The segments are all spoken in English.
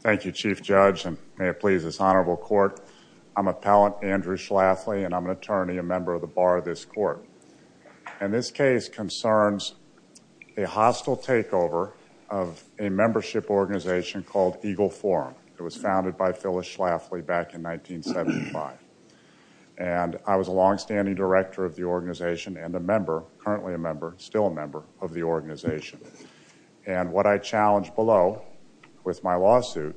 Thank you, Chief Judge, and may it please this Honorable Court, I'm Appellant Andrew Schlafly and I'm an attorney, a member of the Bar of this Court. And this case concerns a hostile takeover of a membership organization called Eagle Forum. It was founded by Phyllis Schlafly back in 1975. And I was a longstanding director of the organization and a member, currently a member, still a member of the organization. And what I challenge below with my lawsuit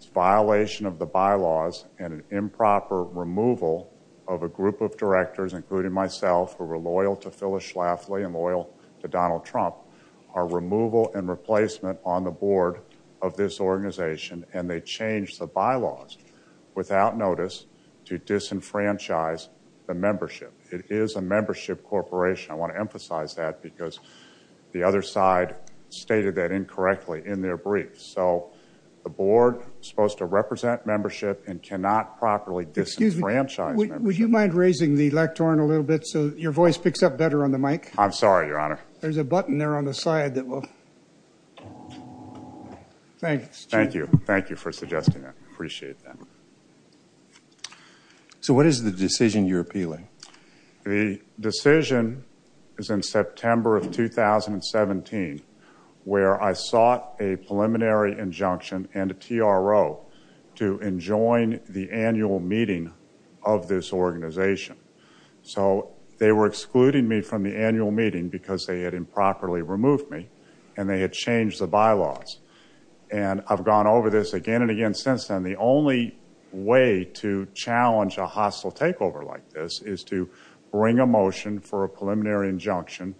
is violation of the bylaws and an improper removal of a group of directors, including myself, who were loyal to Phyllis Schlafly and loyal to Donald Trump, are removal and replacement on the board of this organization and they changed the bylaws without notice to disenfranchise the membership. It is a membership corporation. I want to emphasize that because the other side stated that incorrectly in their brief. So the board is supposed to represent membership and cannot properly disenfranchise membership. Excuse me, would you mind raising the lectern a little bit so your voice picks up better on the mic? I'm sorry, Your Honor. There's a button there on the side that will. Thanks, Chief. Thank you. Thank you for suggesting that. I appreciate that. So what is the decision you're appealing? The decision is in September of 2017 where I sought a preliminary injunction and a TRO to enjoin the annual meeting of this organization. So they were excluding me from the annual meeting because they had improperly removed me and they had changed the bylaws. And I've gone over this again and again since then. And the only way to challenge a hostile takeover like this is to bring a motion for a preliminary injunction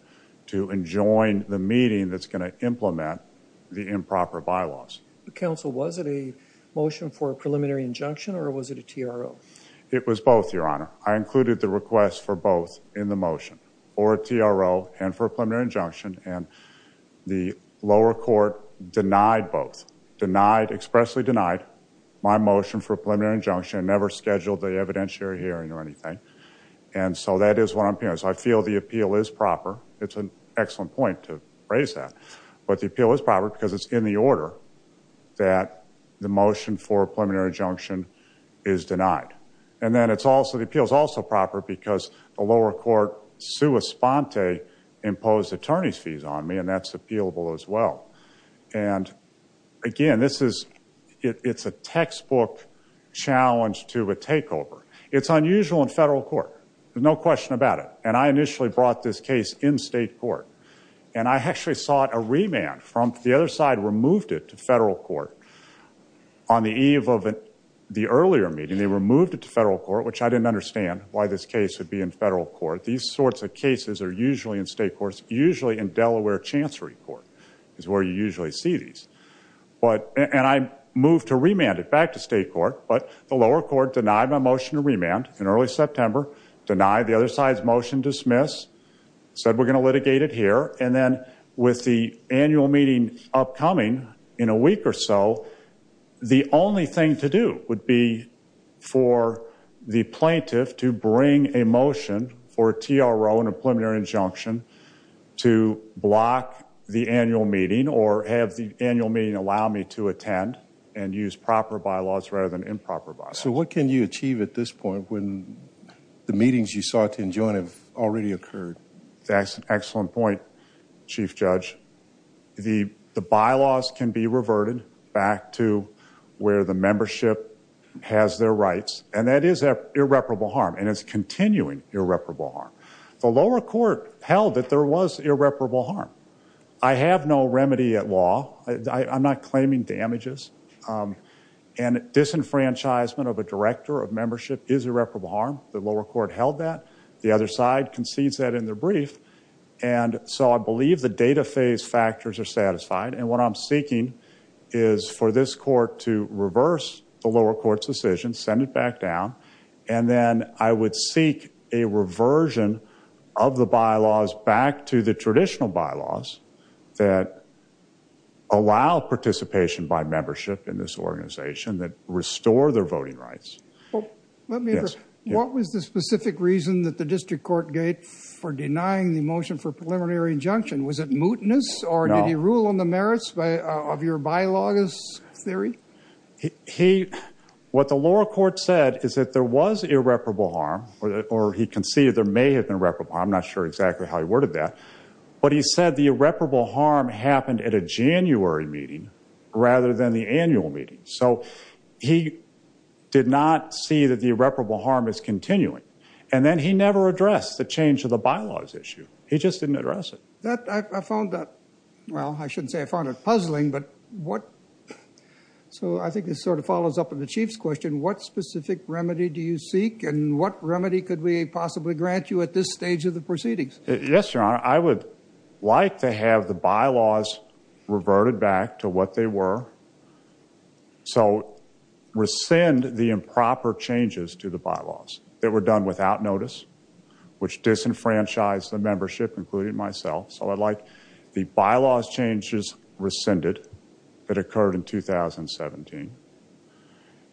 to enjoin the meeting that's going to implement the improper bylaws. Counsel, was it a motion for a preliminary injunction or was it a TRO? It was both, Your Honor. I included the request for both in the motion for a TRO and for a preliminary injunction and the lower court denied both. Denied, expressly denied my motion for a preliminary injunction. Never scheduled the evidentiary hearing or anything. And so that is what I'm appealing. So I feel the appeal is proper. It's an excellent point to raise that. But the appeal is proper because it's in the order that the motion for a preliminary injunction is denied. And then it's also, the appeal is also proper because the lower court sua sponte imposed attorney's fees on me and that's appealable as well. And again, this is, it's a textbook challenge to a takeover. It's unusual in federal court. There's no question about it. And I initially brought this case in state court. And I actually sought a remand from, the other side removed it to federal court on the eve of the earlier meeting. And they removed it to federal court, which I didn't understand why this case would be in federal court. These sorts of cases are usually in state courts, usually in Delaware Chancery Court is where you usually see these. And I moved to remand it back to state court, but the lower court denied my motion to remand in early September, denied the other side's motion dismiss, said we're going to litigate it here. And then with the annual meeting upcoming in a week or so, the only thing to do would be for the plaintiff to bring a motion for a TRO and a preliminary injunction to block the annual meeting or have the annual meeting allow me to attend and use proper bylaws rather than improper bylaws. So what can you achieve at this point when the meetings you sought to enjoin have already occurred? That's an excellent point, Chief Judge. The bylaws can be reverted back to where the membership has their rights, and that is irreparable harm and is continuing irreparable harm. The lower court held that there was irreparable harm. I have no remedy at law. I'm not claiming damages and disenfranchisement of a director of membership is irreparable harm. The lower court held that. The other side concedes that in their brief. And so I believe the data phase factors are satisfied. And what I'm seeking is for this court to reverse the lower court's decision, send it back down, and then I would seek a reversion of the bylaws back to the traditional bylaws that allow participation by membership in this organization that restore their voting rights. What was the specific reason that the district court gave for denying the motion for preliminary injunction? Was it mootness? Or did he rule on the merits of your bylaws theory? What the lower court said is that there was irreparable harm, or he conceded there may have been irreparable harm. I'm not sure exactly how he worded that. But he said the irreparable harm happened at a January meeting rather than the annual meeting. So he did not see that the irreparable harm is continuing. And then he never addressed the change of the bylaws issue. He just didn't address it. That, I found that, well, I shouldn't say I found it puzzling, but what, so I think this sort of follows up on the chief's question. What specific remedy do you seek, and what remedy could we possibly grant you at this stage of the proceedings? Yes, Your Honor. I would like to have the bylaws reverted back to what they were. So rescind the improper changes to the bylaws that were done without notice, which disenfranchised the membership, including myself. So I'd like the bylaws changes rescinded that occurred in 2017.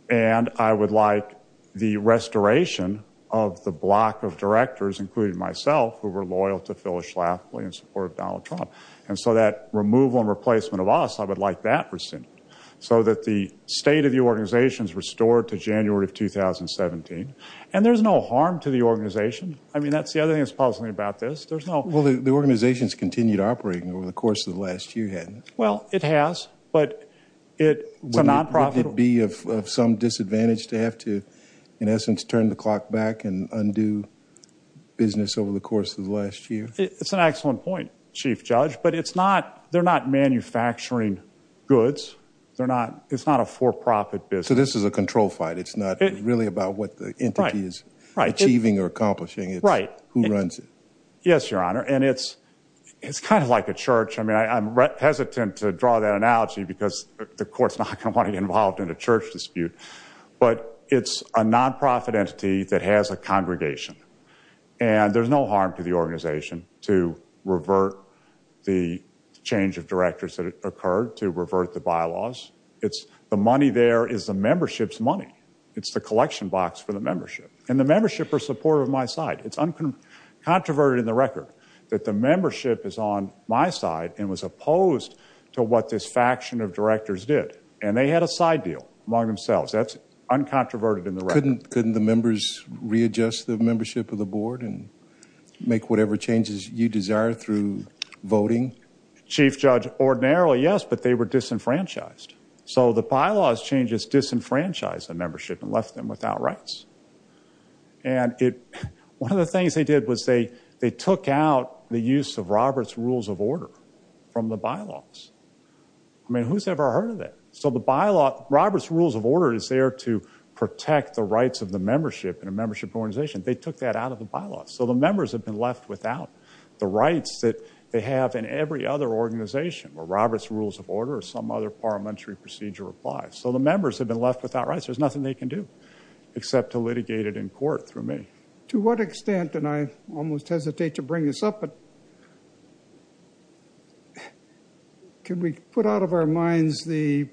And I would like the restoration of the block of directors, including myself, who were loyal to Phyllis Schlafly in support of Donald Trump. And so that removal and replacement of us, I would like that rescinded. So that the state of the organization is restored to January of 2017. And there's no harm to the organization. I mean, that's the other thing that's puzzling about this. There's no- Well, the organization's continued operating over the course of the last year, hasn't it? Well, it has, but it's a non-profit- Would it be of some disadvantage to have to, in essence, turn the clock back and undo business over the course of the last year? It's an excellent point, Chief Judge. But they're not manufacturing goods. It's not a for-profit business. So this is a control fight. It's not really about what the entity is achieving or accomplishing. It's who runs it. Yes, Your Honor. And it's kind of like a church. I mean, I'm hesitant to draw that analogy because the court's not going to want to get involved in a church dispute. But it's a non-profit entity that has a congregation. And there's no harm to the organization to revert the change of directors that occurred, to revert the bylaws. It's the money there is the membership's money. It's the collection box for the membership. And the membership are supportive of my side. It's uncontroverted in the record that the membership is on my side and was opposed to what this faction of directors did. And they had a side deal among themselves. That's uncontroverted in the record. Couldn't the members readjust the membership of the board and make whatever changes you desire through voting? Chief Judge, ordinarily, yes, but they were disenfranchised. So the bylaws changes disenfranchised the membership and left them without rights. And one of the things they did was they took out the use of Robert's Rules of Order from the bylaws. I mean, who's ever heard of that? So the bylaw, Robert's Rules of Order is there to protect the rights of the membership in a membership organization. They took that out of the bylaws. So the members have been left without the rights that they have in every other organization where Robert's Rules of Order or some other parliamentary procedure applies. So the members have been left without rights. There's nothing they can do except to litigate it in court through me. To what extent, and I almost hesitate to bring this up, but can we put out of our minds the,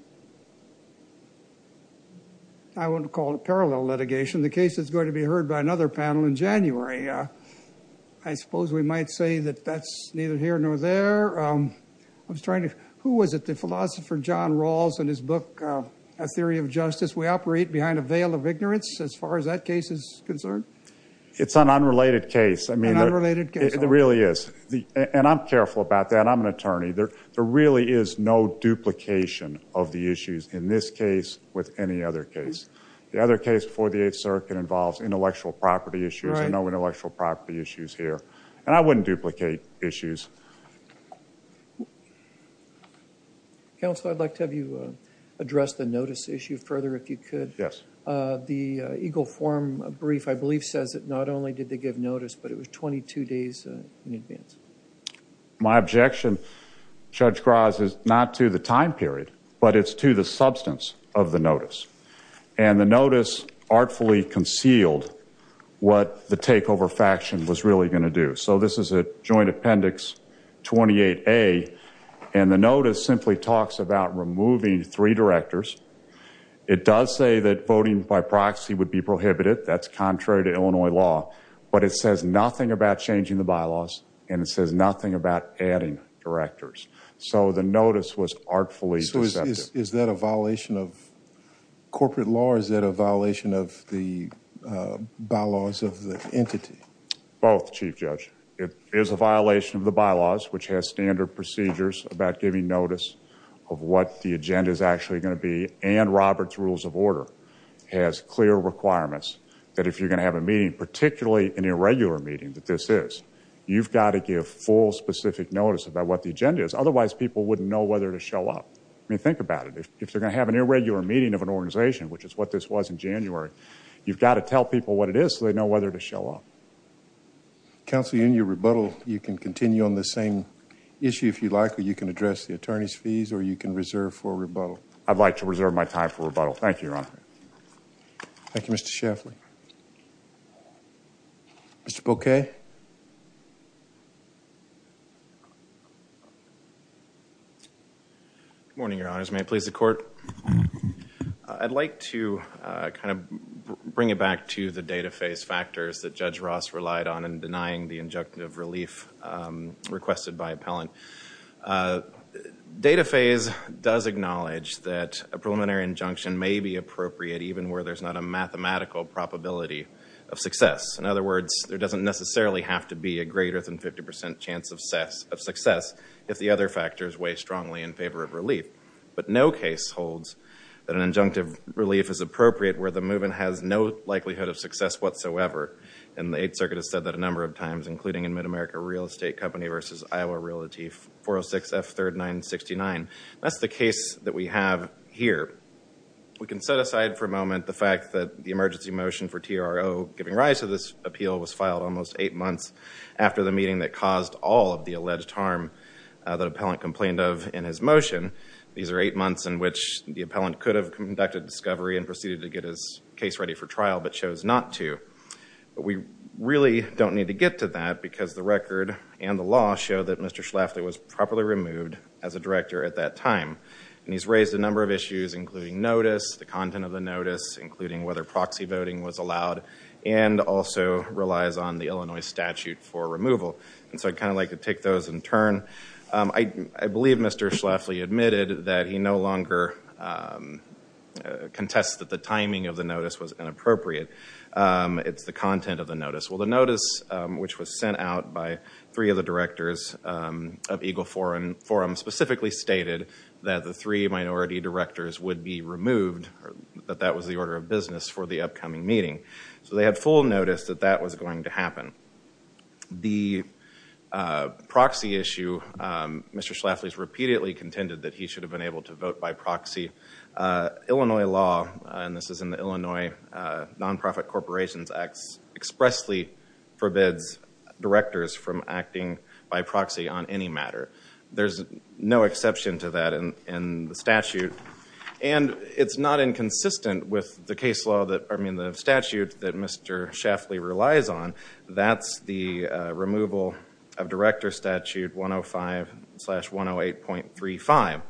I wouldn't call it parallel litigation, the case that's going to be heard by another panel in January? I suppose we might say that that's neither here nor there. I was trying to, who was it, the philosopher John Rawls and his book, A Theory of Justice, we operate behind a veil of ignorance as far as that case is concerned? It's an unrelated case. An unrelated case. I mean, it really is. And I'm careful about that. I'm an attorney. There really is no duplication of the issues in this case with any other case. The other case before the Eighth Circuit involves intellectual property issues. There are no intellectual property issues here. And I wouldn't duplicate issues. Counsel, I'd like to have you address the notice issue further if you could. Yes. The Eagle Forum brief, I believe, says that not only did they give notice, but it was 22 days in advance. My objection, Judge Graz, is not to the time period, but it's to the substance of the notice. And the notice artfully concealed what the takeover faction was really going to do. So this is a joint appendix 28A, and the notice simply talks about removing three directors. It does say that voting by proxy would be prohibited. That's contrary to Illinois law. But it says nothing about changing the bylaws, and it says nothing about adding directors. So the notice was artfully deceptive. Is that a violation of corporate law, or is that a violation of the bylaws of the entity? Both, Chief Judge. It is a violation of the bylaws, which has standard procedures about giving notice of what the agenda is actually going to be. And Robert's Rules of Order has clear requirements that if you're going to have a meeting, particularly an irregular meeting that this is, you've got to give full, specific notice about what the agenda is. Otherwise, people wouldn't know whether to show up. I mean, think about it. If they're going to have an irregular meeting of an organization, which is what this was in January, you've got to tell people what it is so they know whether to show up. Counselor, in your rebuttal, you can continue on the same issue if you'd like, or you can address the attorney's fees, or you can reserve for rebuttal. I'd like to reserve my time for rebuttal. Thank you, Your Honor. Thank you, Mr. Shaffley. Mr. Boquet? Good morning, Your Honors. May it please the Court? I'd like to kind of bring it back to the data phase factors that Judge Ross relied on in denying the injunctive relief requested by appellant. Data phase does acknowledge that a preliminary injunction may be appropriate even where there's not a mathematical probability of success. In other words, there doesn't necessarily have to be a greater than 50 percent chance of success if the other factors weigh strongly in favor of relief. But no case holds that an injunctive relief is appropriate where the movement has no likelihood of success whatsoever, and the Eighth Circuit has said that a number of times, including in Mid-America Real Estate Company v. Iowa Realty, 406 F. 3rd 969. That's the case that we have here. We can set aside for a moment the fact that the emergency motion for TRO giving rise to this appeal was filed almost eight months after the meeting that caused all of the alleged harm that the appellant complained of in his motion. These are eight months in which the appellant could have conducted discovery and proceeded to get his case ready for trial, but chose not to. We really don't need to get to that because the record and the law show that Mr. Schlafly was properly removed as a director at that time, and he's raised a number of issues, including notice, the content of the notice, including whether proxy voting was allowed, and also relies on the Illinois statute for removal, and so I'd kind of like to take those in turn. I believe Mr. Schlafly admitted that he no longer contests that the timing of the notice was inappropriate. It's the content of the notice. Well, the notice, which was sent out by three of the directors of Eagle Forum, specifically stated that the three minority directors would be removed, that that was the order of business for the upcoming meeting. So they had full notice that that was going to happen. The proxy issue, Mr. Schlafly has repeatedly contended that he should have been able to vote by proxy. Illinois law, and this is in the Illinois Nonprofit Corporations Act, expressly forbids directors from acting by proxy on any matter. There's no exception to that in the statute, and it's not inconsistent with the statute that Mr. Schlafly relies on. That's the removal of Director Statute 105-108.35.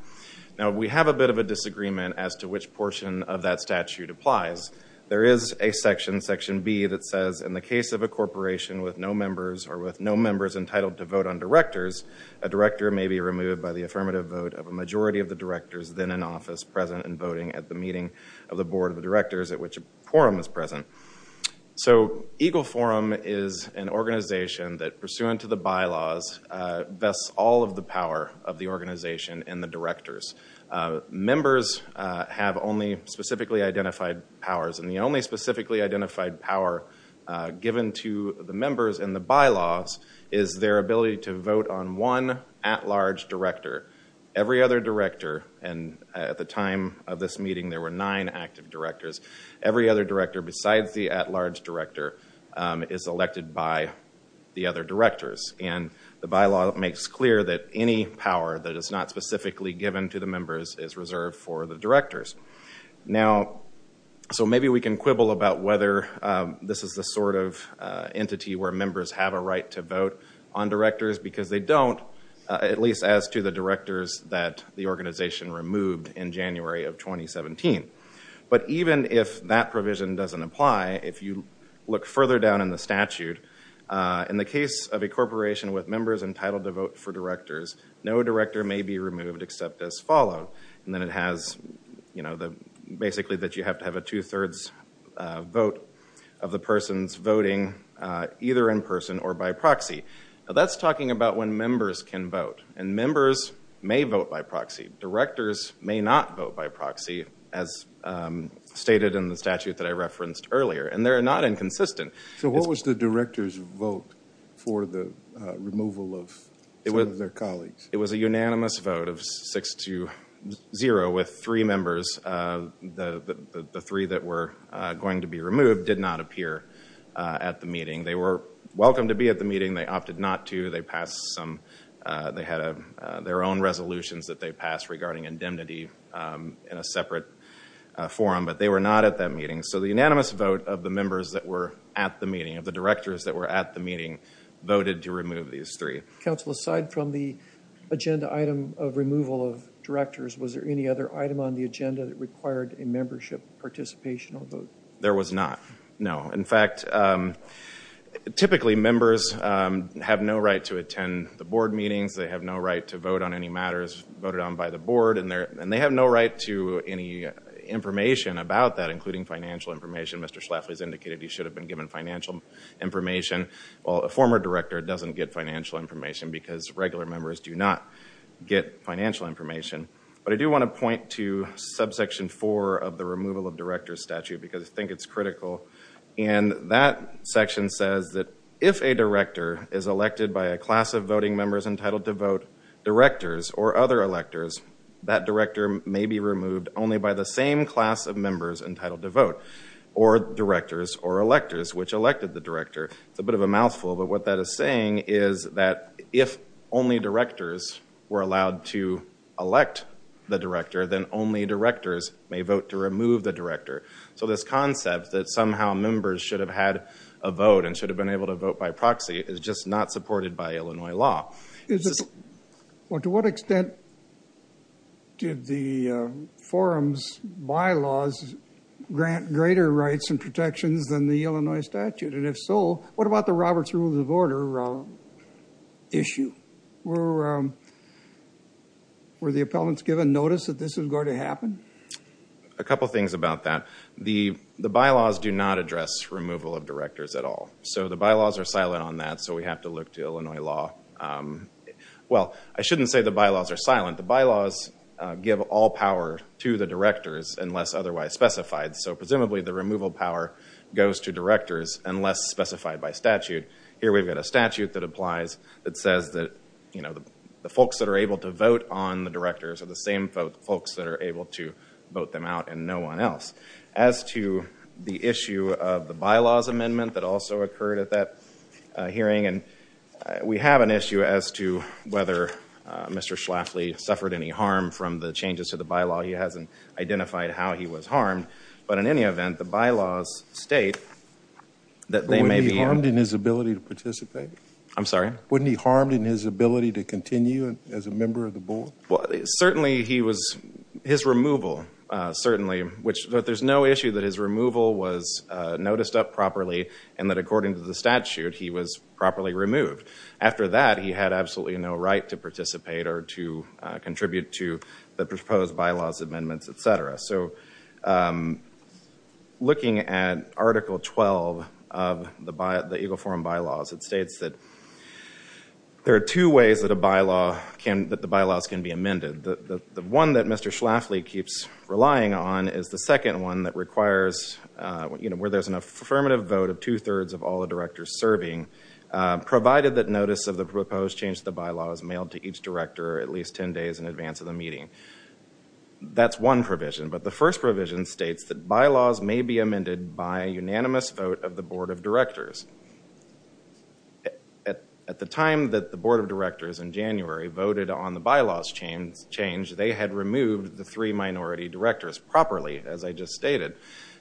Now we have a bit of a disagreement as to which portion of that statute applies. There is a section, Section B, that says, in the case of a corporation with no members or with no members entitled to vote on directors, a director may be removed by the affirmative vote of a majority of the directors then in office present and voting at the meeting of the board of directors at which a forum is present. So EGLE Forum is an organization that, pursuant to the bylaws, vests all of the power of the organization and the directors. Members have only specifically identified powers, and the only specifically identified power given to the members in the bylaws is their ability to vote on one at-large director. Every other director, and at the time of this meeting there were nine active directors, every other director besides the at-large director is elected by the other directors, and the bylaw makes clear that any power that is not specifically given to the members is reserved for the directors. So maybe we can quibble about whether this is the sort of entity where members have a the organization removed in January of 2017. But even if that provision doesn't apply, if you look further down in the statute, in the case of a corporation with members entitled to vote for directors, no director may be removed except as followed, and then it has, you know, basically that you have to have a two-thirds vote of the person's voting either in person or by proxy. Now that's talking about when members can vote, and members may vote by proxy. Directors may not vote by proxy, as stated in the statute that I referenced earlier, and they're not inconsistent. So what was the director's vote for the removal of some of their colleagues? It was a unanimous vote of six to zero, with three members, the three that were going to be removed did not appear at the meeting. They were welcome to be at the meeting, they opted not to, they passed some, they had their own resolutions that they passed regarding indemnity in a separate forum, but they were not at that meeting. So the unanimous vote of the members that were at the meeting, of the directors that were at the meeting, voted to remove these three. Counsel aside from the agenda item of removal of directors, was there any other item on the agenda that required a membership participation or vote? There was not, no. In fact, typically members have no right to attend the board meetings, they have no right to vote on any matters voted on by the board, and they have no right to any information about that, including financial information. Mr. Schlafly has indicated he should have been given financial information, while a former director doesn't get financial information, because regular members do not get financial information. But I do want to point to subsection four of the removal of directors statute, because I think it's critical, and that section says that if a director is elected by a class of voting members entitled to vote, directors or other electors, that director may be removed only by the same class of members entitled to vote, or directors or electors, which elected the director. It's a bit of a mouthful, but what that is saying is that if only directors were allowed to elect the director, then only directors may vote to remove the director. So this concept that somehow members should have had a vote and should have been able to vote by proxy is just not supported by Illinois law. Is this, well to what extent did the forum's bylaws grant greater rights and protections than the Illinois statute, and if so, what about the Roberts Rules of Order issue? Were the appellants given notice that this was going to happen? A couple things about that. The bylaws do not address removal of directors at all. So the bylaws are silent on that, so we have to look to Illinois law. Well I shouldn't say the bylaws are silent. The bylaws give all power to the directors unless otherwise specified, so presumably the removal power goes to directors unless specified by statute. Here we've got a statute that applies that says that the folks that are able to vote on the directors are the same folks that are able to vote them out and no one else. As to the issue of the bylaws amendment that also occurred at that hearing, we have an issue as to whether Mr. Schlafly suffered any harm from the changes to the bylaw. He hasn't identified how he was harmed, but in any event, the bylaws state that they may be- But wouldn't he be harmed in his ability to participate? I'm sorry? Wouldn't he be harmed in his ability to continue as a member of the board? Certainly he was, his removal certainly, but there's no issue that his removal was noticed up properly and that according to the statute, he was properly removed. After that, he had absolutely no right to participate or to contribute to the proposed bylaws amendments, etc. So, looking at Article 12 of the EGLE forum bylaws, it states that there are two ways that the bylaws can be amended. The one that Mr. Schlafly keeps relying on is the second one that requires, where there's an affirmative vote of two-thirds of all the directors serving, provided that notice of the proposed change to the bylaw is mailed to each director at least 10 days in advance of the meeting. That's one provision, but the first provision states that bylaws may be amended by unanimous vote of the board of directors. At the time that the board of directors in January voted on the bylaws change, they had removed the three minority directors properly, as I just stated.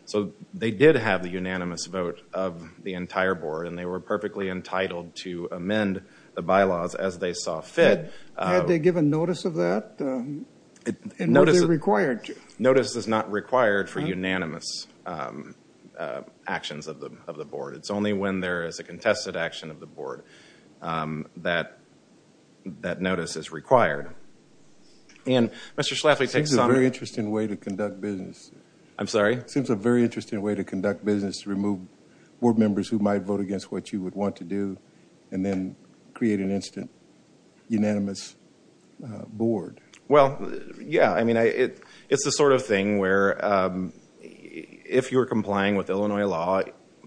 So they did have the unanimous vote of the entire board and they were perfectly entitled to amend the bylaws as they saw fit. Had they given notice of that? And was it required? Notice is not required for unanimous actions of the board. It's only when there is a contested action of the board that that notice is required. And Mr. Schlafly takes some- Seems a very interesting way to conduct business. I'm sorry? Seems a very interesting way to conduct business to remove board members who might vote against what you would want to do and then create an instant unanimous board. Well, yeah. I mean, it's the sort of thing where if you're complying with Illinois law,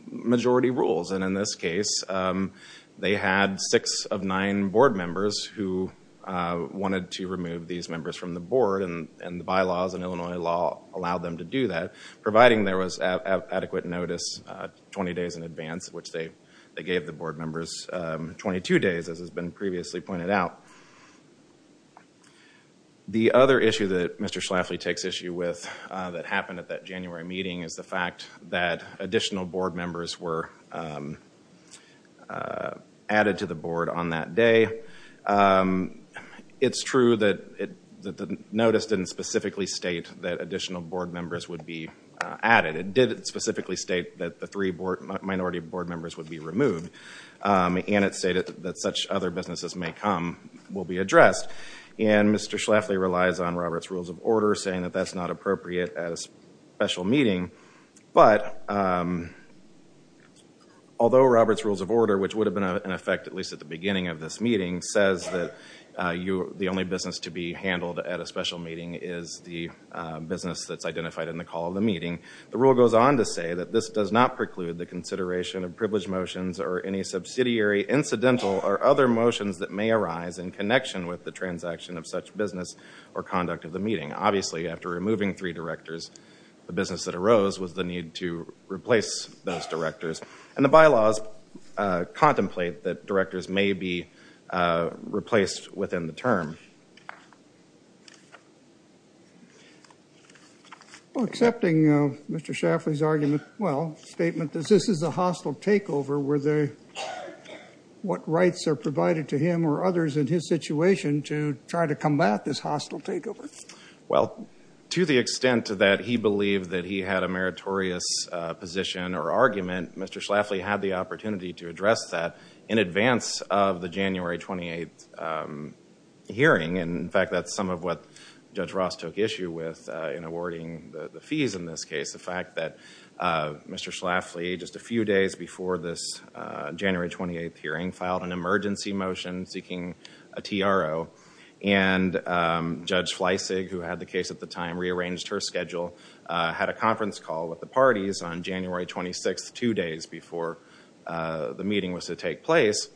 majority rules. And in this case, they had six of nine board members who wanted to remove these members from the board and the bylaws in Illinois law allowed them to do that, providing there was adequate notice 20 days in advance, which they gave the board members 22 days, as has been previously pointed out. The other issue that Mr. Schlafly takes issue with that happened at that January meeting is the fact that additional board members were added to the board on that day. It's true that the notice didn't specifically state that additional board members would be added. It did specifically state that the three minority board members would be removed, and it stated that such other businesses may come, will be addressed. And Mr. Schlafly relies on Robert's Rules of Order, saying that that's not appropriate at a special meeting, but although Robert's Rules of Order, which would have been in effect at least at the beginning of this meeting, says that the only business to be handled at a special meeting is the business that's identified in the call of the meeting, the rule goes on to say that this does not preclude the consideration of privileged motions or any subsidiary, incidental, or other motions that may arise in connection with the transaction of such business or conduct of the meeting. Obviously, after removing three directors, the business that arose was the need to replace those directors. And the bylaws contemplate that directors may be replaced within the term. Well, accepting Mr. Schlafly's argument, well, statement that this is a hostile takeover, were there, what rights are provided to him or others in his situation to try to combat this hostile takeover? Well, to the extent that he believed that he had a meritorious position or argument, Mr. Schlafly had the opportunity to address that in advance of the January 28th hearing. And in fact, that's some of what Judge Ross took issue with in awarding the fees in this case. The fact that Mr. Schlafly, just a few days before this January 28th hearing, filed an the time, rearranged her schedule, had a conference call with the parties on January 26th, two days before the meeting was to take place.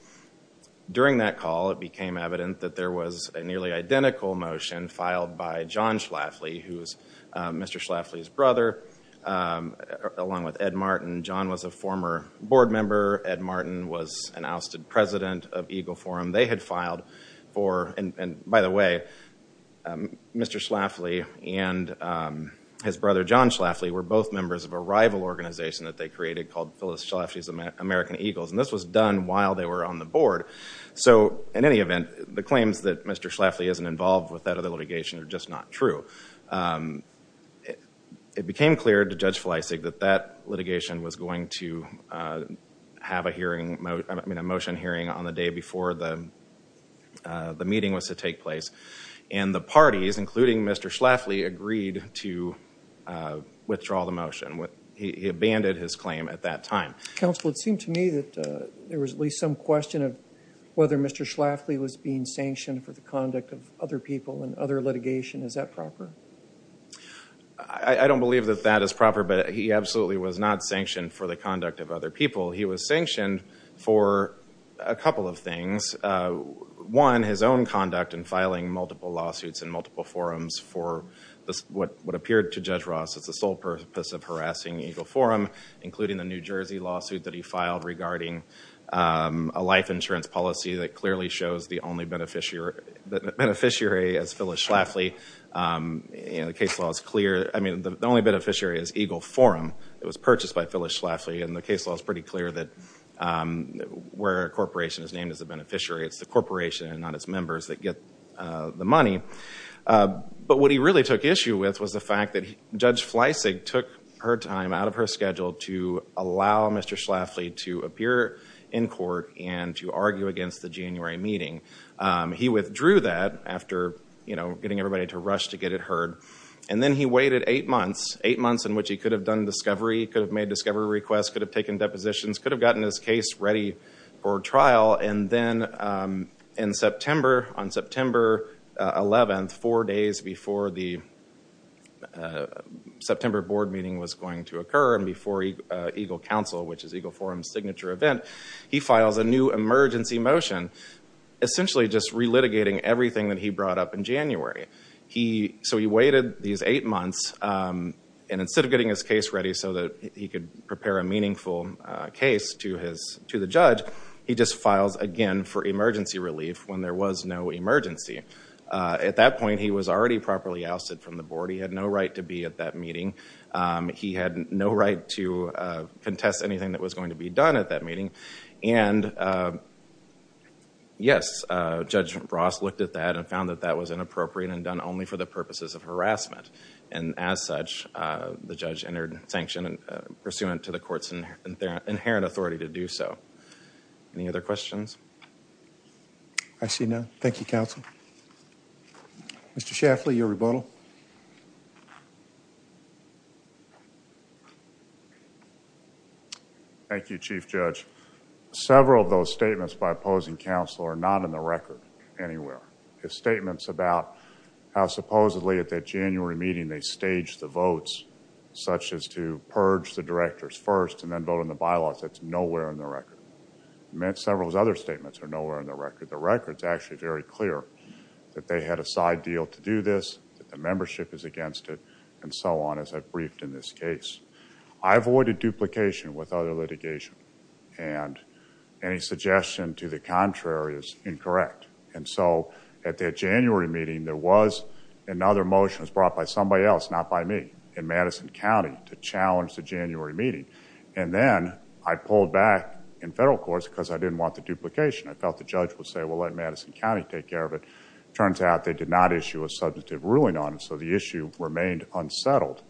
During that call, it became evident that there was a nearly identical motion filed by John Schlafly, who is Mr. Schlafly's brother, along with Ed Martin. John was a former board member. Ed Martin was an ousted president of Eagle Forum. They had filed for, and by the way, Mr. Schlafly and his brother, John Schlafly, were both members of a rival organization that they created called Phyllis Schlafly's American Eagles. And this was done while they were on the board. So in any event, the claims that Mr. Schlafly isn't involved with that other litigation are just not true. It became clear to Judge Fleissig that that litigation was going to have a motion hearing on the day before the meeting was to take place. And the parties, including Mr. Schlafly, agreed to withdraw the motion. He abandoned his claim at that time. Counsel, it seemed to me that there was at least some question of whether Mr. Schlafly was being sanctioned for the conduct of other people and other litigation. Is that proper? I don't believe that that is proper, but he absolutely was not sanctioned for the conduct of other people. He was sanctioned for a couple of things. One, his own conduct in filing multiple lawsuits and multiple forums for what appeared to Judge Ross as the sole purpose of harassing Eagle Forum, including the New Jersey lawsuit that he filed regarding a life insurance policy that clearly shows the only beneficiary as Phyllis Schlafly. The case law is clear. I mean, the only beneficiary is Eagle Forum. It was purchased by Phyllis Schlafly and the case law is pretty clear that where a corporation is named as a beneficiary, it's the corporation and not its members that get the money. But what he really took issue with was the fact that Judge Fleissig took her time out of her schedule to allow Mr. Schlafly to appear in court and to argue against the January meeting. He withdrew that after getting everybody to rush to get it heard. And then he waited eight months, eight months in which he could have done discovery, could have made discovery requests, could have taken depositions, could have gotten his case ready for trial. And then on September 11th, four days before the September board meeting was going to occur and before Eagle Council, which is Eagle Forum's signature event, he files a new emergency motion essentially just relitigating everything that he brought up in January. So he waited these eight months and instead of getting his case ready so that he could prepare a meaningful case to the judge, he just files again for emergency relief when there was no emergency. At that point, he was already properly ousted from the board. He had no right to be at that meeting. He had no right to contest anything that was going to be done at that meeting. And yes, Judge Ross looked at that and found that that was inappropriate and done only for the purposes of harassment. And as such, the judge entered sanction pursuant to the court's inherent authority to do so. Any other questions? I see none. Thank you, counsel. Mr. Schaffley, your rebuttal. Thank you, Chief Judge. Several of those statements by opposing counsel are not in the record anywhere. His statements about how supposedly at that January meeting they staged the votes such as to purge the directors first and then vote on the bylaws, that's nowhere in the record. Several of his other statements are nowhere in the record. The record's actually very clear that they had a side deal to do this, that the membership is against it, and so on as I've briefed in this case. I avoided duplication with other litigation and any suggestion to the contrary is incorrect. And so at that January meeting, there was another motion that was brought by somebody else, not by me, in Madison County to challenge the January meeting. And then I pulled back in federal courts because I didn't want the duplication. I felt the judge would say, well, let Madison County take care of it. It turns out they did not issue a substantive ruling on it, so the issue remained unsettled.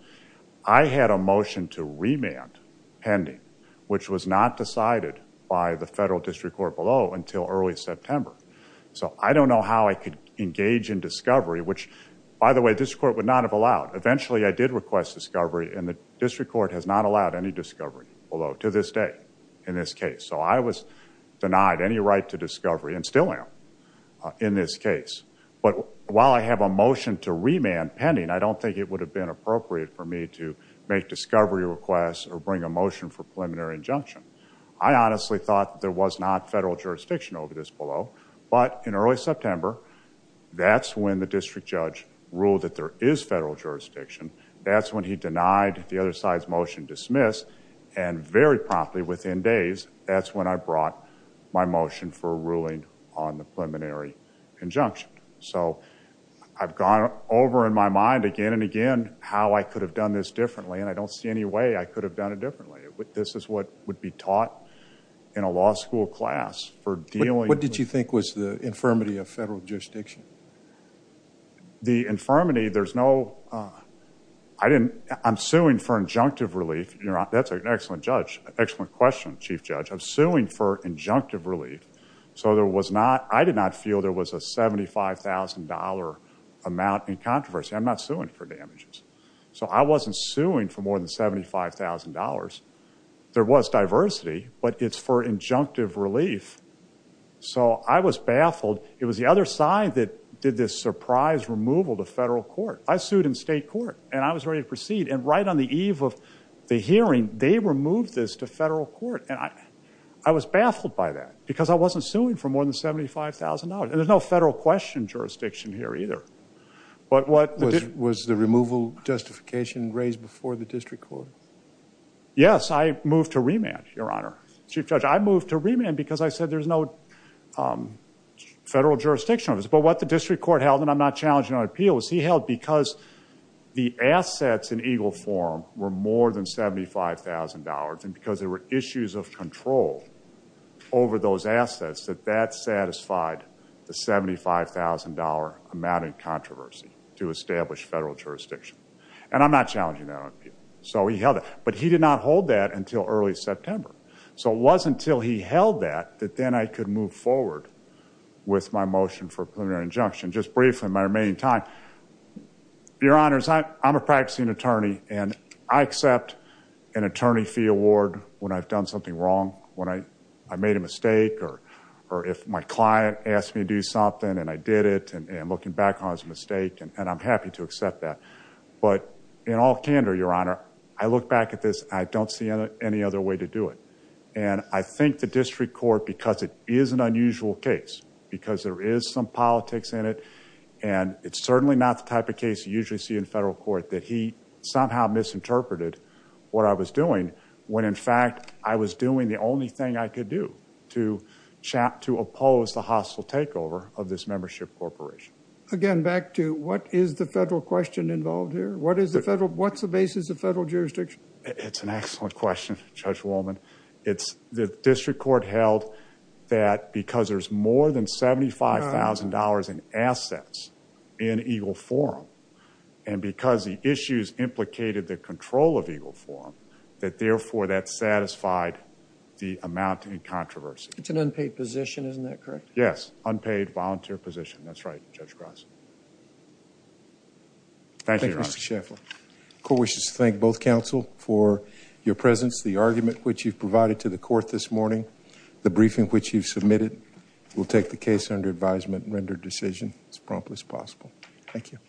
I had a motion to remand pending, which was not decided by the federal district court below until early September. So I don't know how I could engage in discovery, which, by the way, this court would not have allowed. Eventually, I did request discovery and the district court has not allowed any discovery below to this day in this case. So I was denied any right to discovery and still am in this case. But while I have a motion to remand pending, I don't think it would have been appropriate for me to make discovery requests or bring a motion for preliminary injunction. I honestly thought there was not federal jurisdiction over this below. But in early September, that's when the district judge ruled that there is federal jurisdiction. That's when he denied the other side's motion dismissed. And very promptly within days, that's when I brought my motion for a ruling on the preliminary injunction. So I've gone over in my mind again and again how I could have done this differently, and I don't see any way I could have done it differently. This is what would be taught in a law school class for dealing with— What did you think was the infirmity of federal jurisdiction? The infirmity, there's no—I'm suing for injunctive relief. That's an excellent question, Chief Judge. I'm suing for injunctive relief. So I did not feel there was a $75,000 amount in controversy. I'm not suing for damages. So I wasn't suing for more than $75,000. There was diversity, but it's for injunctive relief. So I was baffled. It was the other side that did this surprise removal to federal court. I sued in state court, and I was ready to proceed. And right on the eve of the hearing, they removed this to federal court, and I was baffled by that because I wasn't suing for more than $75,000. And there's no federal question jurisdiction here either. Was the removal justification raised before the district court? Yes, I moved to remand, Your Honor, Chief Judge. I moved to remand because I said there's no federal jurisdiction on this. But what the district court held, and I'm not challenging it on appeal, was he held because the assets in EGLE form were more than $75,000 and because there were issues of control over those assets, that that satisfied the $75,000 amount in controversy to establish federal jurisdiction. And I'm not challenging that on appeal. So he held that. But he did not hold that until early September. So it wasn't until he held that that then I could move forward with my motion for preliminary injunction. Just briefly, in my remaining time, Your Honors, I'm a practicing attorney, and I accept an attorney fee award when I've done something wrong, when I made a mistake, or if my client asked me to do something and I did it, and looking back on it as a mistake, and I'm happy to accept that. But in all candor, Your Honor, I look back at this, and I don't see any other way to do it. And I think the district court, because it is an unusual case, because there is some politics in it, and it's certainly not the type of case you usually see in federal court, that he somehow misinterpreted what I was doing when in fact I was doing the only thing I could do to oppose the hostile takeover of this membership corporation. Again, back to what is the federal question involved here? What's the basis of federal jurisdiction? It's an excellent question, Judge Wolman. The district court held that because there's more than $75,000 in assets in Eagle Forum, and because the issues implicated the control of Eagle Forum, that therefore that satisfied the amount in controversy. It's an unpaid position, isn't that correct? Yes, unpaid volunteer position. That's right, Judge Gross. Thank you, Your Honor. Thank you, Mr. Shaffer. Court wishes to thank both counsel for your presence, the argument which you've provided to the court this morning, the briefing which you've submitted. We'll take the case under advisement and render a decision as promptly as possible. Thank you.